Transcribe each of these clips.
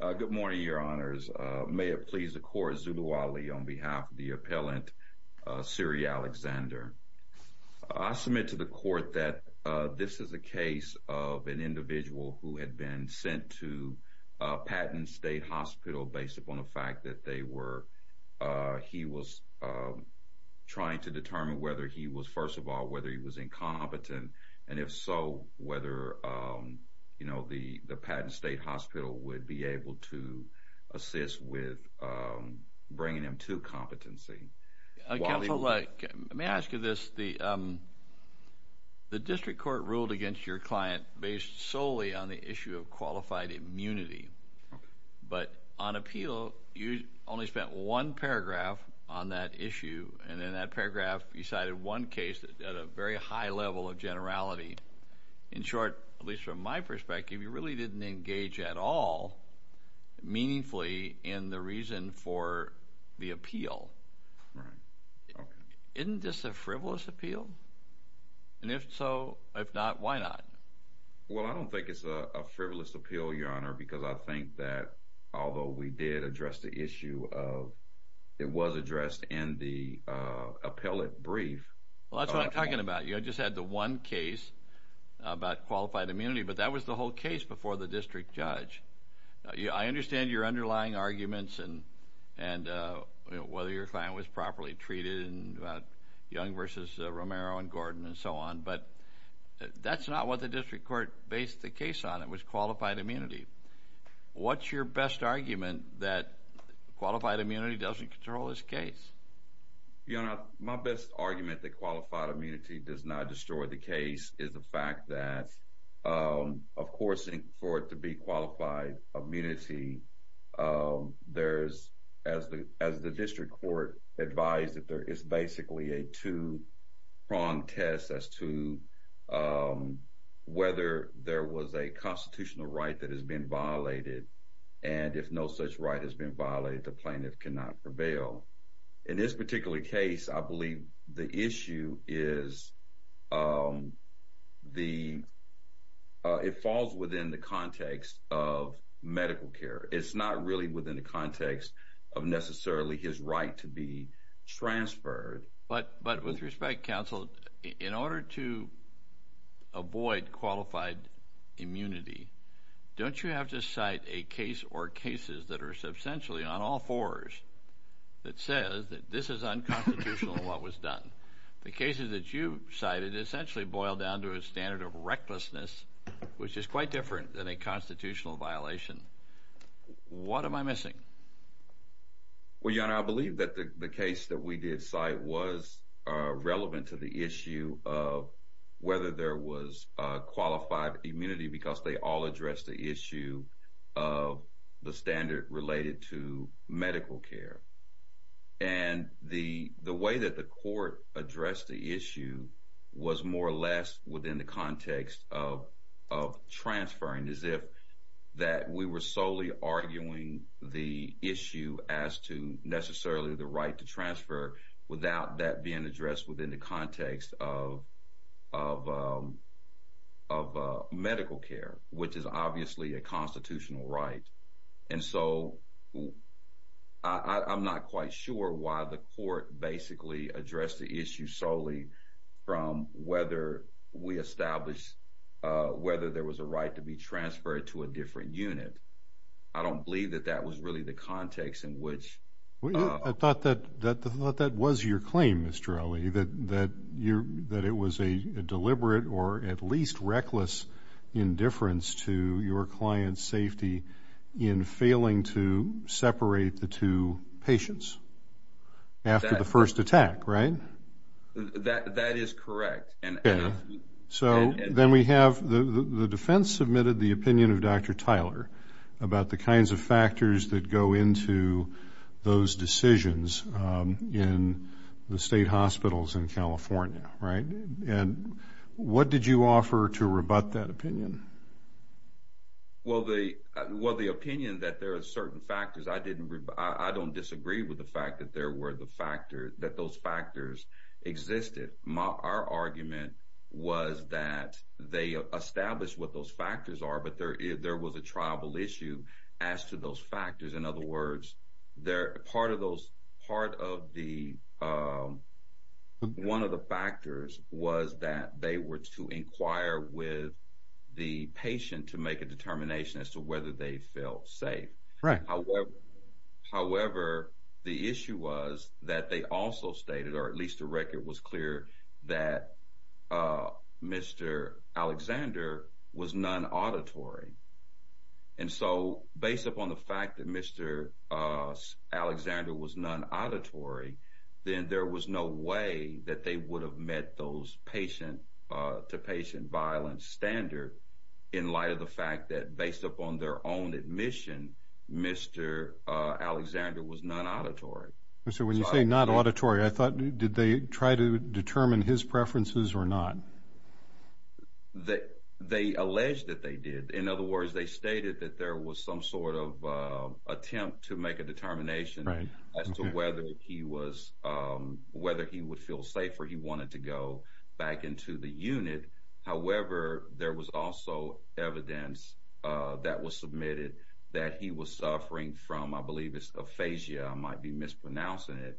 Good morning, Your Honors. May it please the court, Zulu Ali on behalf of the appellant, Sury Alexander. I submit to the court that this is a case of an individual who had been sent to Patton State Hospital based upon the fact that they were, uh, he was, uh, trying to determine whether he was first of all, whether he was incompetent, and if so, whether, um, you know, the Patton State Hospital would be able to assist with, um, bringing him to competency. Sury Alexander Counsel, let me ask you this. The, um, the district court ruled against your client based solely on the issue of qualified immunity, but on appeal, you only spent one paragraph on that issue, and in that paragraph, you cited one case at a very high level of generality. In short, at least from my point of view, you didn't speak at all meaningfully in the reason for the appeal. Right. Okay. Isn't this a frivolous appeal? And if so, if not, why not? Well, I don't think it's a frivolous appeal, Your Honor, because I think that although we did address the issue of, it was addressed in the, uh, appellate brief. Well, that's what I'm talking about. You just had the one case about qualified immunity, but that was the whole case before the district judge. I understand your underlying arguments and, and, uh, whether your client was properly treated in Young versus Romero and Gordon and so on, but that's not what the district court based the case on. It was qualified immunity. What's your best argument that qualified immunity doesn't control this case? Your Honor, my best argument that qualified immunity does not destroy the case is the fact that, um, of course, for it to be qualified immunity, um, there's as the as the district court advised that there is basically a two prong test as to, um, whether there was a constitutional right that has been violated. And if no such right has been violated, the plaintiff cannot prevail. In this particular case, I believe the issue is, um, the it falls within the context of medical care. It's not really within the context of necessarily his right to be transferred. But But with respect, counsel, in order to avoid qualified immunity, don't you have to cite a case or cases that are says that this is unconstitutional? What was done? The cases that you cited essentially boiled down to a standard of recklessness, which is quite different than a constitutional violation. What am I missing? Well, you know, I believe that the case that we did site was relevant to the issue of whether there was qualified immunity because they all address the of the standard related to medical care. And the way that the court addressed the issue was more or less within the context of transferring, as if that we were solely arguing the issue as to necessarily the right to transfer without that being addressed within the context of of of medical care, which is obviously a constitutional right. And so I'm not quite sure why the court basically addressed the issue solely from whether we establish whether there was a right to be transferred to a different unit. I don't believe that that was really the context in which I thought that that thought that was your claim, Mr Ali, that that you that it was a deliberate or at least reckless indifference to your client's safety in failing to separate the two patients after the first attack, right? That that is correct. And so then we have the defense submitted the opinion of Dr Tyler about the kinds of factors that go into those decisions in the state hospitals in California. Right. And what did you offer to rebut that opinion? Well, the well, the opinion that there are certain factors I didn't. I don't disagree with the fact that there were the factor that those factors existed. Our argument was that they established what those factors are. But there there was a tribal issue as to those factors. In other words, they're part of those part of the, um, one of the factors was that they were to inquire with the patient to make a determination as to whether they felt safe. However, the issue was that they also stated, or at least the record was clear that, uh, Mr Alexander was non auditory. And so, based upon the fact that Mr, uh, Alexander was non auditory, then there was no way that they would have met those patient to patient violence standard in light of the fact that, based upon their own admission, Mr Alexander was non auditory. So when you say not auditory, I thought, did they try to determine his preferences or not that they alleged that they did? In other words, they stated that there was some sort of attempt to make a determination as to whether he was whether he would feel safer. He wanted to go back into the unit. However, there was also evidence that was submitted that he was suffering from. I believe it's aphasia. I might be mispronouncing it.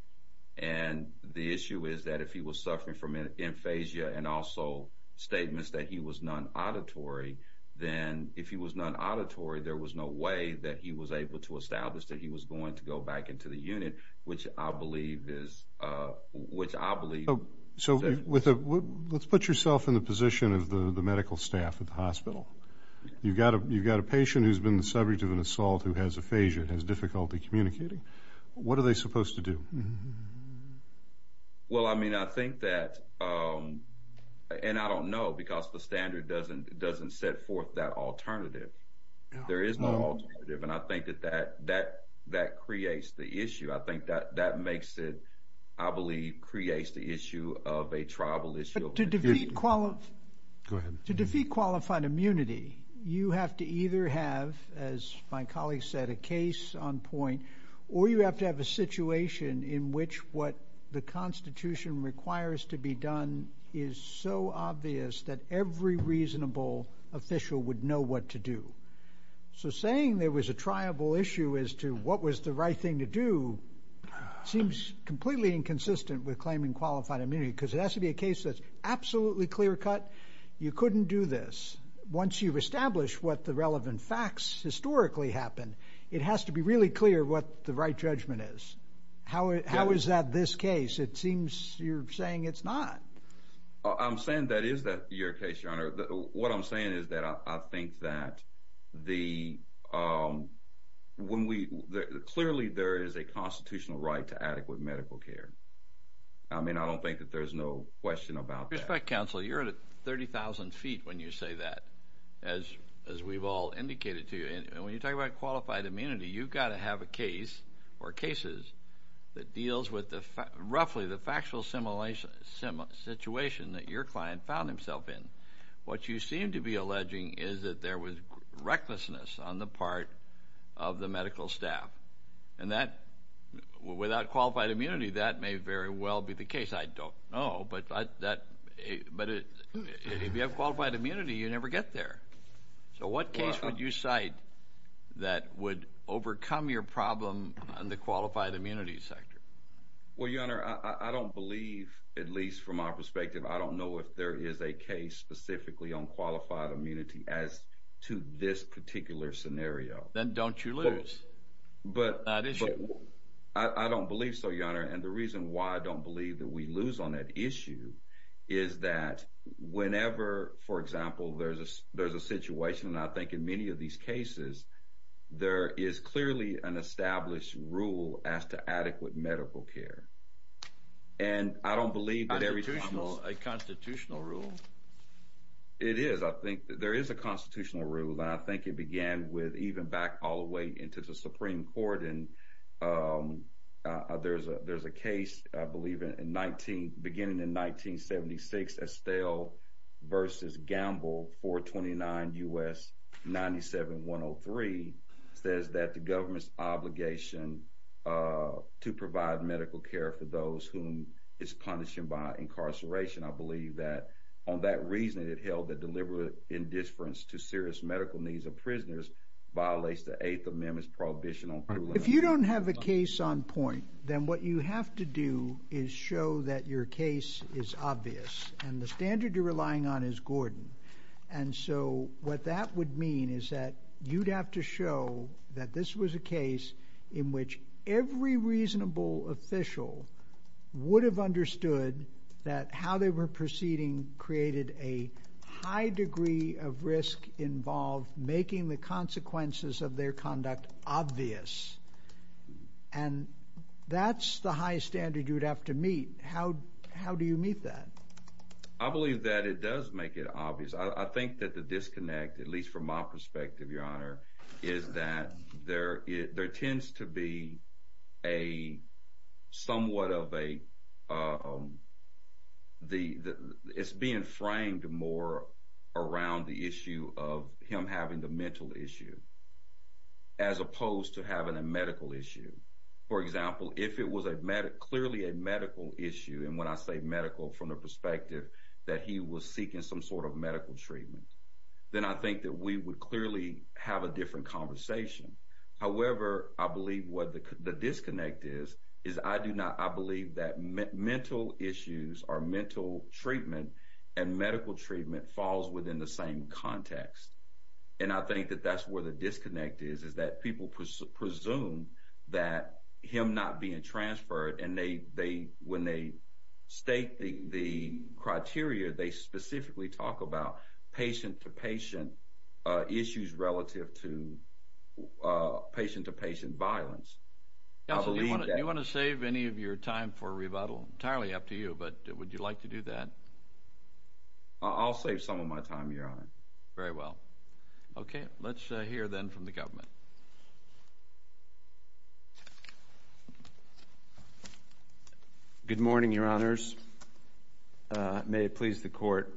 And the issue is that if he was suffering from an aphasia and also statements that he was non auditory, then if he was not auditory, there was no way that he was able to establish that he was going to go back into the unit, which I believe is, uh, which I believe. So with a let's put yourself in the position of the medical staff at the hospital. You've got a You've got a patient who's been the subject of an assault who has aphasia and has difficulty communicating. What are they supposed to do? Well, I mean, I think that, um, and I don't know because the standard doesn't doesn't set forth that alternative. There is no alternative. And I think that that that that creates the issue. I think that that makes it, I believe, creates the issue of a tribal issue to defeat qualified to defeat qualified immunity. You have to either have, as my colleagues said, a case on point, or you have to have a situation in which what the Constitution requires to be is so obvious that every reasonable official would know what to do. So saying there was a tribal issue as to what was the right thing to do seems completely inconsistent with claiming qualified immunity because it has to be a case that's absolutely clear cut. You couldn't do this once you've established what the relevant facts historically happened. It has to be really clear what the right judgment is. How is that this case? It seems you're not. I'm saying that is that your case, Your Honor. What I'm saying is that I think that the, um, when we clearly there is a constitutional right to adequate medical care. I mean, I don't think that there's no question about respect. Council, you're at 30,000 feet when you say that, as as we've all indicated to you. And when you talk about qualified immunity, you've got to have a case or cases that deals with the roughly the factual simulation similar situation that your client found himself in. What you seem to be alleging is that there was recklessness on the part of the medical staff. And that without qualified immunity, that may very well be the case. I don't know. But that, but if you have qualified immunity, you never get there. So what case would you cite that would overcome your problem on the qualified immunity sector? Well, Your Honor, I don't believe, at least from our perspective, I don't know if there is a case specifically on qualified immunity as to this particular scenario. Then don't you lose? But I don't believe so, Your Honor. And the reason why I don't believe that we lose on that issue is that whenever, for example, there's a there's a situation, and I think in many of these cases, there is clearly an established rule as to adequate medical care. And I don't believe that every constitutional rule it is. I think there is a constitutional rule, and I think it began with even back all the way into the Supreme Court. And, um, uh, there's a there's a case, I believe, in 19 beginning in 1976. Estelle versus Gamble 4 29 U. S. 97 103 says that the government's obligation, uh, to provide medical care for those whom is punishing by incarceration. I believe that on that reasoning, it held that deliberate indifference to serious medical needs of prisoners violates the Eighth Amendment's prohibition on if you don't have a case on point, then what you have to do is show that your case is obvious, and the standard you're relying on is Gordon. And so what that would mean is that you'd have to show that this was a case in which every reasonable official would have understood that how they were proceeding created a high degree of risk involved, making the consequences of their conduct obvious. And that's the high standard you would have to meet. How? How do you meet that? I believe that it does make it obvious. I think that the disconnect, at least from my perspective, Your Honor, is that there there tends to be a somewhat of a, um, the it's being more around the issue of him having the mental issue as opposed to having a medical issue. For example, if it was a medic, clearly a medical issue, and when I say medical from the perspective that he was seeking some sort of medical treatment, then I think that we would clearly have a different conversation. However, I believe what the disconnect is, is I do not. I believe that mental issues are mental treatment, and medical treatment falls within the same context. And I think that that's where the disconnect is, is that people presume that him not being transferred and they when they state the criteria, they specifically talk about patient to patient issues relative to patient to patient violence. You want to save any of your time for rebuttal entirely up to you, but would you like to do that? I'll save some of my time, Your Honor. Very well. Okay, let's hear then from the government. Good morning, Your Honors. May it please the court.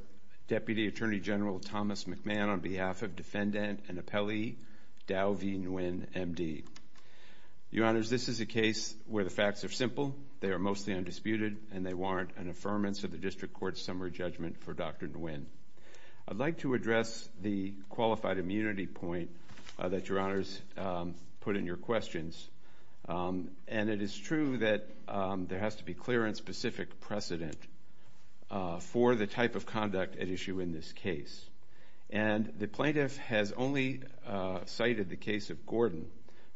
Deputy Attorney General Thomas McMahon on behalf of Defendant and Appellee Dow V. Nguyen, MD. Your Honors, this is a case where the facts are simple. They are mostly undisputed, and they warrant an affirmance of the District Court's summary judgment for Dr. Nguyen. I'd like to address the qualified immunity point that Your Honors put in your questions. And it is true that there has to be clear and specific precedent for the type of conduct at issue in this case. And the plaintiff has only cited the case of Gordon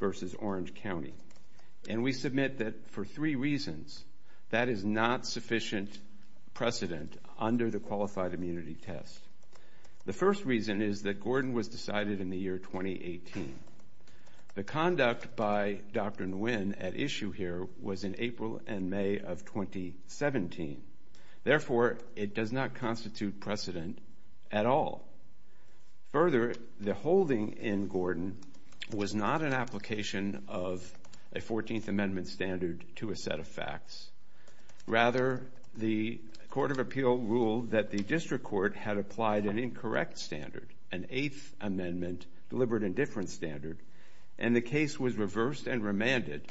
versus Orange County. And we submit that for three reasons, that is not sufficient precedent under the qualified immunity test. The first reason is that Gordon was decided in the year 2018. The conduct by Dr. Nguyen at issue here was in April and May of 2017. Therefore, it does not constitute precedent at all. Further, the holding in Gordon was not an application of a 14th Amendment standard to a set of facts. Rather, the Court of Appeal ruled that the District Court had applied an incorrect standard, an eighth amendment, deliberate indifference standard. And the case was reversed and remanded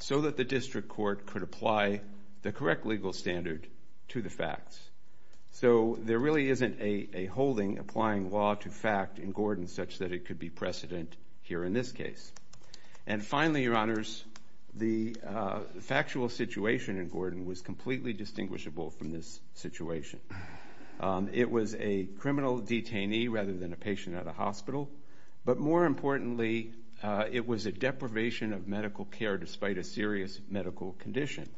so that the District Court could apply the correct legal standard to the facts. So there really isn't a holding applying law to fact in Gordon such that it could be precedent here in this case. And finally, Your Honors, the factual situation in Gordon was completely distinguishable from this situation. It was a criminal detainee rather than a patient at a hospital. But more importantly, it was a deprivation of medical care despite a serious medical condition.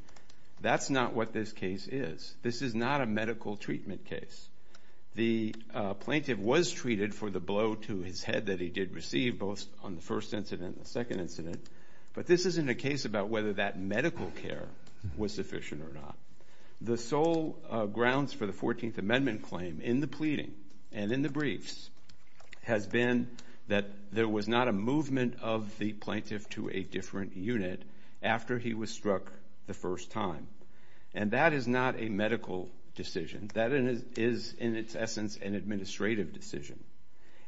That's not what this is. This is not a medical treatment case. The plaintiff was treated for the blow to his head that he did receive both on the first incident and the second incident. But this isn't a case about whether that medical care was sufficient or not. The sole grounds for the 14th Amendment claim in the pleading and in the briefs has been that there was not a movement of the medical decision. That is, in its essence, an administrative decision.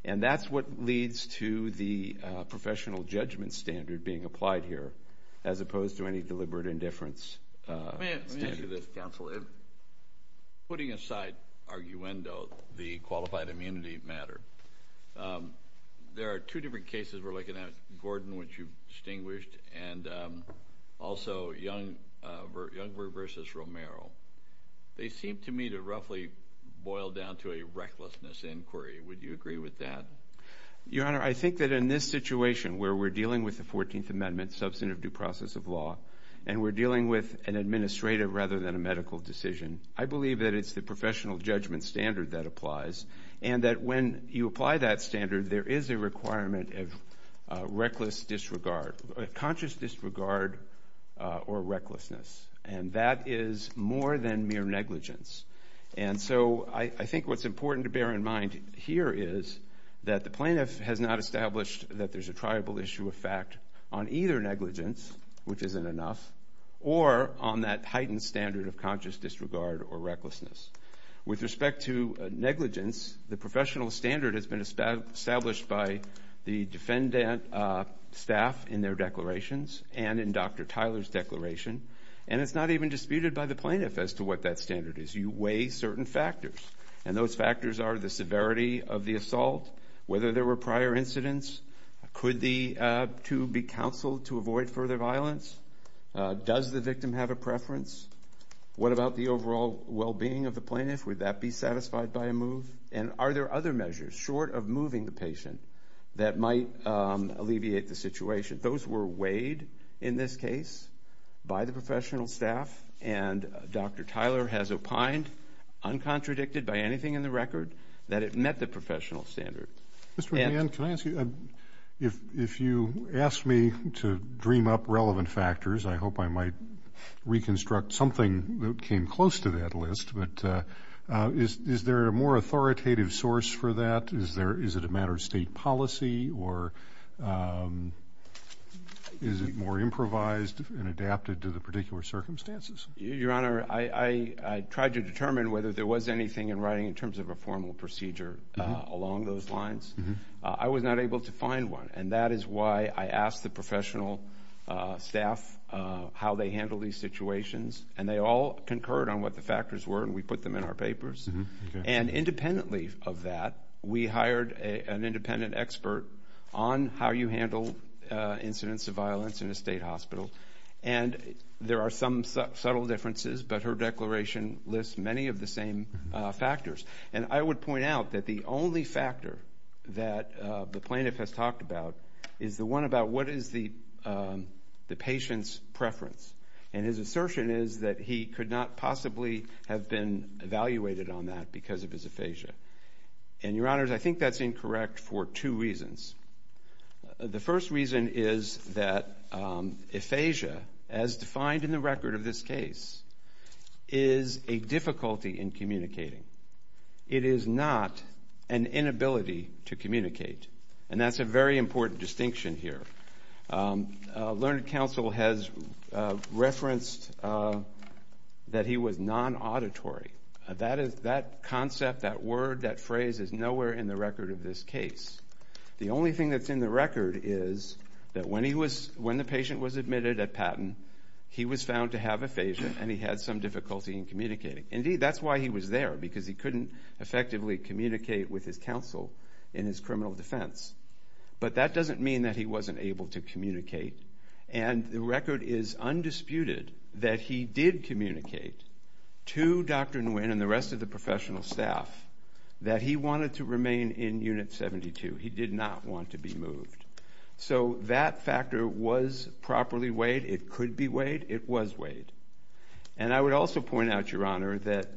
And that's what leads to the professional judgment standard being applied here as opposed to any deliberate indifference standard. Let me ask you this, Counselor. Putting aside arguendo, the qualified immunity matter, there are two different cases we're looking at, Gordon, which you've distinguished, and also Youngberg v. Romero. They seem to me to roughly boil down to a recklessness inquiry. Would you agree with that? Your Honor, I think that in this situation where we're dealing with the 14th Amendment, substantive due process of law, and we're dealing with an administrative rather than a medical decision, I believe that it's the professional judgment standard that applies. And that when you apply that conscious disregard or recklessness, and that is more than mere negligence. And so I think what's important to bear in mind here is that the plaintiff has not established that there's a triable issue of fact on either negligence, which isn't enough, or on that heightened standard of conscious disregard or recklessness. With respect to negligence, the professional standard has been established by the defendant staff in their declarations and in Dr. Tyler's declaration, and it's not even disputed by the plaintiff as to what that standard is. You weigh certain factors, and those factors are the severity of the assault, whether there were prior incidents, could the two be counseled to avoid further violence, does the victim have a preference, what about the overall well being of the plaintiff, would that be satisfied by a move, and are there other measures, short of moving the patient, that might alleviate the situation. Those were weighed in this case by the professional staff, and Dr. Tyler has opined, uncontradicted by anything in the record, that it met the professional standard. Mr. McMahon, can I ask you, if you ask me to dream up relevant factors, I hope I might reconstruct something that came close to that list, but is there a more authoritative source for that, is it a matter of state policy, or is it more improvised and adapted to the particular circumstances? Your Honor, I tried to determine whether there was anything in writing in terms of a formal procedure along those lines. I was not able to find one, and that is why I asked the professional staff how they handle these situations, and they all concurred on what the factors were, and we put them in our papers, and independently of that, we hired an independent expert on how you handle incidents of violence in a state hospital, and there are some subtle differences, but her declaration lists many of the same factors, and I would point out that the only factor that the plaintiff has talked about is the one about what is the patient's preference, and his assertion is that he could not possibly have been evaluated on that because of his aphasia, and, Your Honor, I think that's incorrect for two reasons. The first reason is that aphasia, as defined in the record of this case, is a difficulty in communicating. It is not an inability to communicate, and that's a very important distinction here. Learned Counsel has referenced that he was non-auditory. That concept, that word, that phrase is nowhere in the record of this case. The only thing that's in the record is that when the patient was admitted at Patton, he was found to have aphasia, and he had some difficulty in communicating. Indeed, that's why he was there, because he couldn't effectively communicate with his counsel in his criminal defense, but that doesn't mean that he wasn't able to communicate, and the record is undisputed that he did communicate to Dr. Nguyen and the rest of the professional staff that he wanted to remain in Unit 72. He did not want to be moved, so that factor was properly weighed. It could be weighed. It was weighed, and I would also point out, that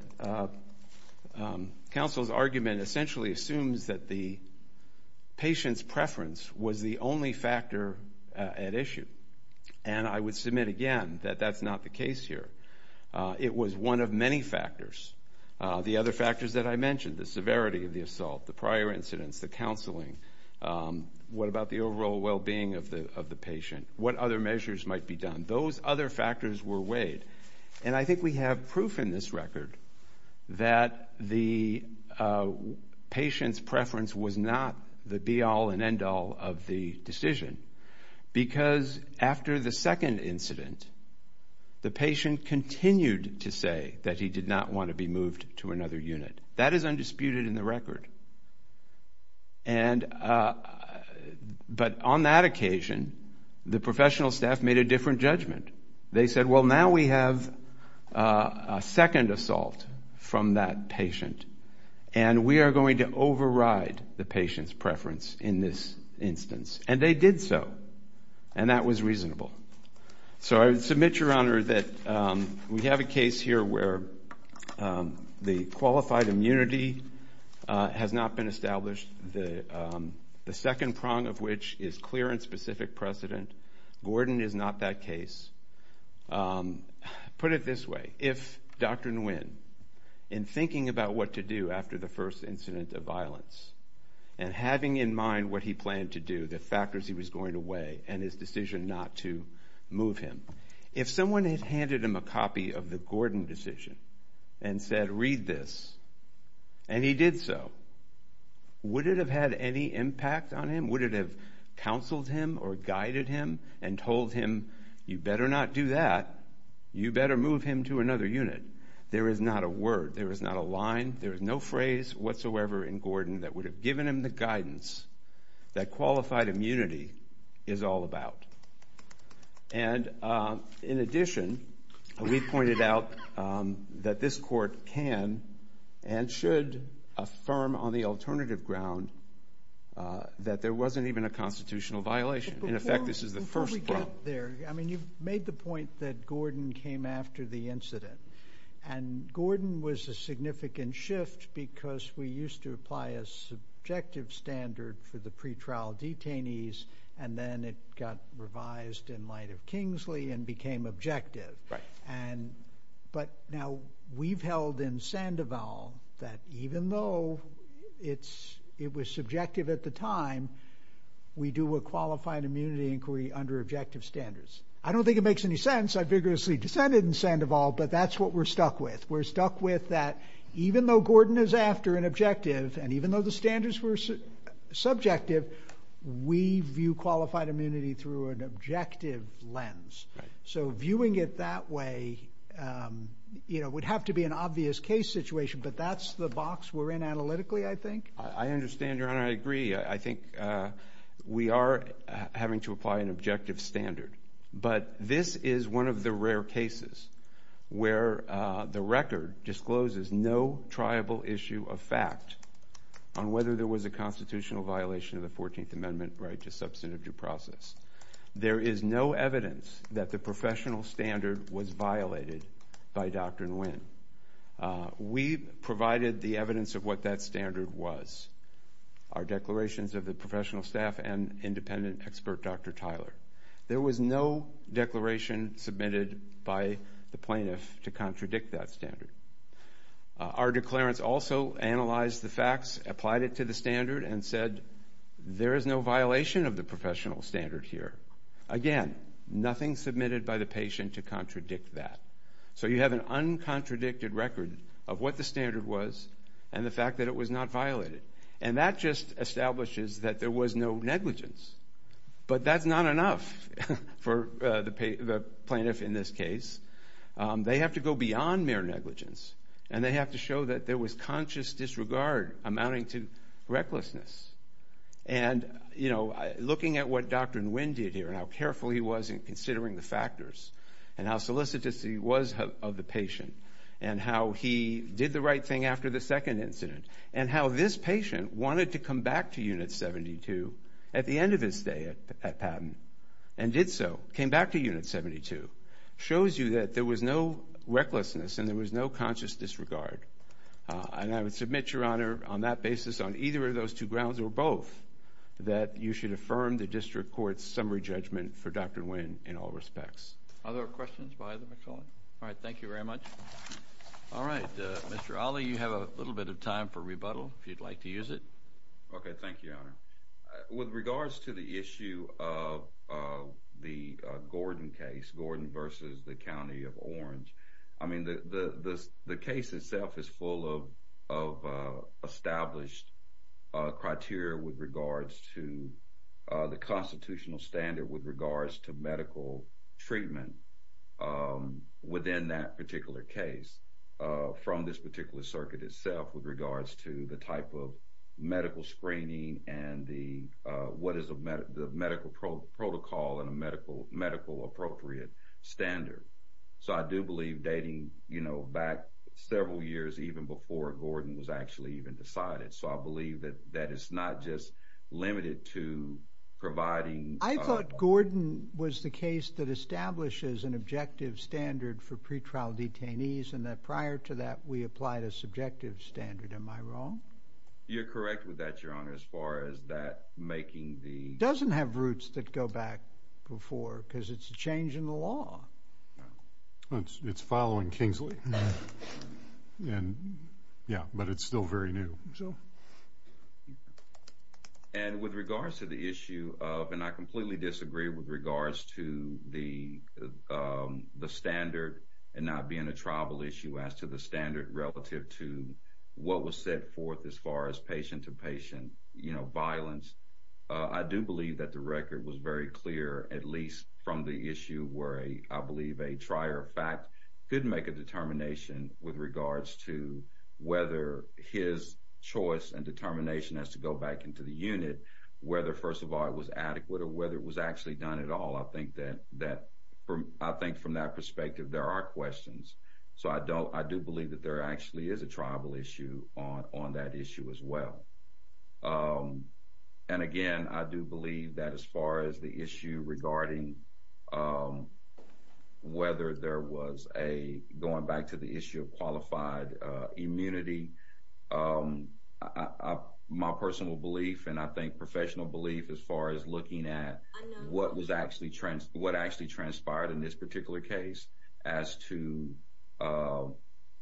Counsel's argument essentially assumes that the patient's preference was the only factor at issue, and I would submit again that that's not the case here. It was one of many factors. The other factors that I mentioned, the severity of the assault, the prior incidents, the counseling, what about the overall well-being of the patient, what other measures might be done. Those other factors were weighed, and I think we have proof in this record that the patient's preference was not the be-all and end-all of the decision, because after the second incident, the patient continued to say that he did not want to be moved to another unit. That is undisputed in the record, but on that day, they said, well, now we have a second assault from that patient, and we are going to override the patient's preference in this instance, and they did so, and that was reasonable. So I submit, Your Honor, that we have a case here where the qualified immunity has not been established, the second prong of which is clear and specific precedent. Gordon is not that case. Put it this way. If Dr. Nguyen, in thinking about what to do after the first incident of violence, and having in mind what he planned to do, the factors he was going to weigh, and his decision not to move him, if someone had handed him a copy of the Gordon decision and said, read this, and he did so, would it have had any impact on him? Would it have counseled him or guided him and told him, you better not do that. You better move him to another unit. There is not a word. There is not a line. There is no phrase whatsoever in Gordon that would have given him the guidance that qualified immunity is all about. And in addition, we've pointed out that this court can and should affirm on the alternative ground that there wasn't even a constitutional violation. In effect, this is the first prong. I mean, you've made the point that Gordon came after the incident, and Gordon was a significant shift because we used to apply a subjective standard for the pretrial detainees, and then it got revised in the court and became objective. But now we've held in Sandoval that even though it was subjective at the time, we do a qualified immunity inquiry under objective standards. I don't think it makes any sense. I vigorously dissented in Sandoval, but that's what we're stuck with. We're stuck with that even though Gordon is after an objective, and even though the standards were subjective, we view qualified immunity through an objective lens. So viewing it that way would have to be an obvious case situation, but that's the box we're in analytically, I think. I understand, Your Honor. I agree. I think we are having to apply an objective standard. But this is one of the rare cases where the record discloses no triable issue of fact on whether there was a substantive due process. There is no evidence that the professional standard was violated by Doctrine Winn. We provided the evidence of what that standard was, our declarations of the professional staff and independent expert, Dr. Tyler. There was no declaration submitted by the plaintiff to contradict that standard. Our declarants also analyzed the facts, applied it to the standard, and said, there is no violation of the professional standard here. Again, nothing submitted by the patient to contradict that. So you have an uncontradicted record of what the standard was and the fact that it was not violated. And that just establishes that there was no negligence. But that's not enough for the plaintiff in this case. They have to go beyond mere negligence, and they have to show that there was conscious disregard amounting to recklessness. And looking at what Doctrine Winn did here, and how careful he was in considering the factors, and how solicitous he was of the patient, and how he did the right thing after the second incident, and how this patient wanted to come back to Unit 72 at the end of his stay at Patton, and did so, came back to Unit 72, shows you that there was no recklessness, and there was no conscious disregard. And I would submit, Your Honor, on that basis, on either of those two grounds or both, that you should affirm the district court's summary judgment for Doctrine Winn in all respects. Other questions by the McCullough? All right, thank you very much. All right, Mr. Ali, you have a little bit of time for rebuttal, if you'd like to use it. Okay, thank you, Your Honor. With regards to the issue of the Gordon case, Gordon versus the County of Orange, I mean, the case itself is full of established criteria with regards to the constitutional standard, with regards to medical treatment within that particular case, from this particular circuit itself, with regards to the type of medical screening, and what is the medical protocol and a medical appropriate standard. So I do believe dating, you know, back several years, even before Gordon was actually even decided. So I believe that that is not just limited to providing... I thought Gordon was the case that establishes an objective standard for pretrial detainees, and that prior to that, we applied a subjective standard. Am I wrong? You're correct with that, Your Honor, as far as that making the... It doesn't have roots that go back before, because it's a change in the law. It's following Kingsley, and yeah, but it's still very new. And with regards to the issue of, and I completely disagree with regards to the standard and not being a tribal issue as to the standard relative to what was set forth as far as patient-to-patient, you know, violence. I do believe that the record was very clear, at least from the issue where, I believe, a trier of fact could make a determination with regards to whether his choice and determination has to go back into the unit, whether, first of all, it was adequate or whether it was actually done at all. I think from that perspective, there are questions. So, I do believe that there actually is a tribal issue on that issue as well. And again, I do believe that as far as the issue regarding whether there was a, going back to the issue of qualified immunity, my personal belief and I think professional belief as far as looking at what actually transpired in this particular case as to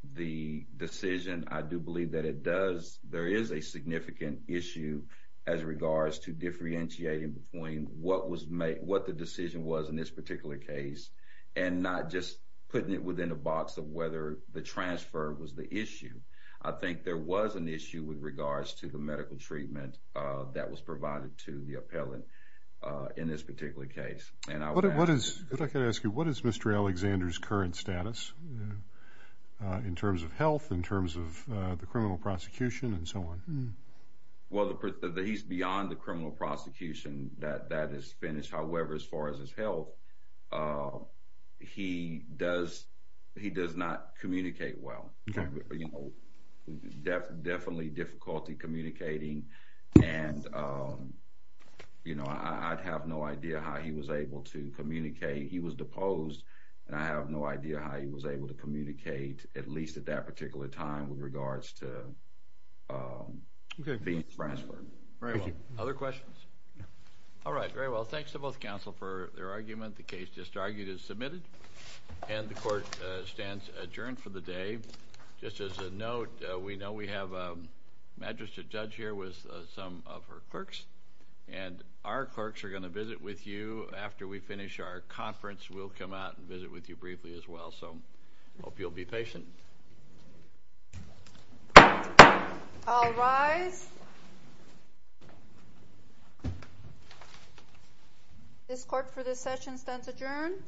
the decision. I do believe that it does, there is a significant issue as regards to differentiating between what was made, what the decision was in this particular case, and not just putting it within a box of whether the transfer was the issue. I think there was an issue with regards to the medical treatment that was provided to the appellant in this particular case. And I would ask... I'd like to ask you, what is Mr. Alexander's current status in terms of health, in terms of the criminal prosecution, and so on? Well, he's beyond the criminal prosecution that is finished. However, as far as his health, he does not communicate well. Definitely difficulty communicating and I'd have no idea how he was able to communicate. He was deposed and I have no idea how he was able to communicate, at least at that particular time, with regards to being transferred. Very well. Other questions? All right. Very well. Thanks to both counsel for their argument. The case just argued is submitted and the court stands adjourned for the day. Just as a note, we know we have a magistrate judge here with some of her clerks and our clerks are going to visit with you after we finish our conference. We'll come out and visit with you briefly as well. So I hope you'll be patient. All rise. This court for this session stands adjourned.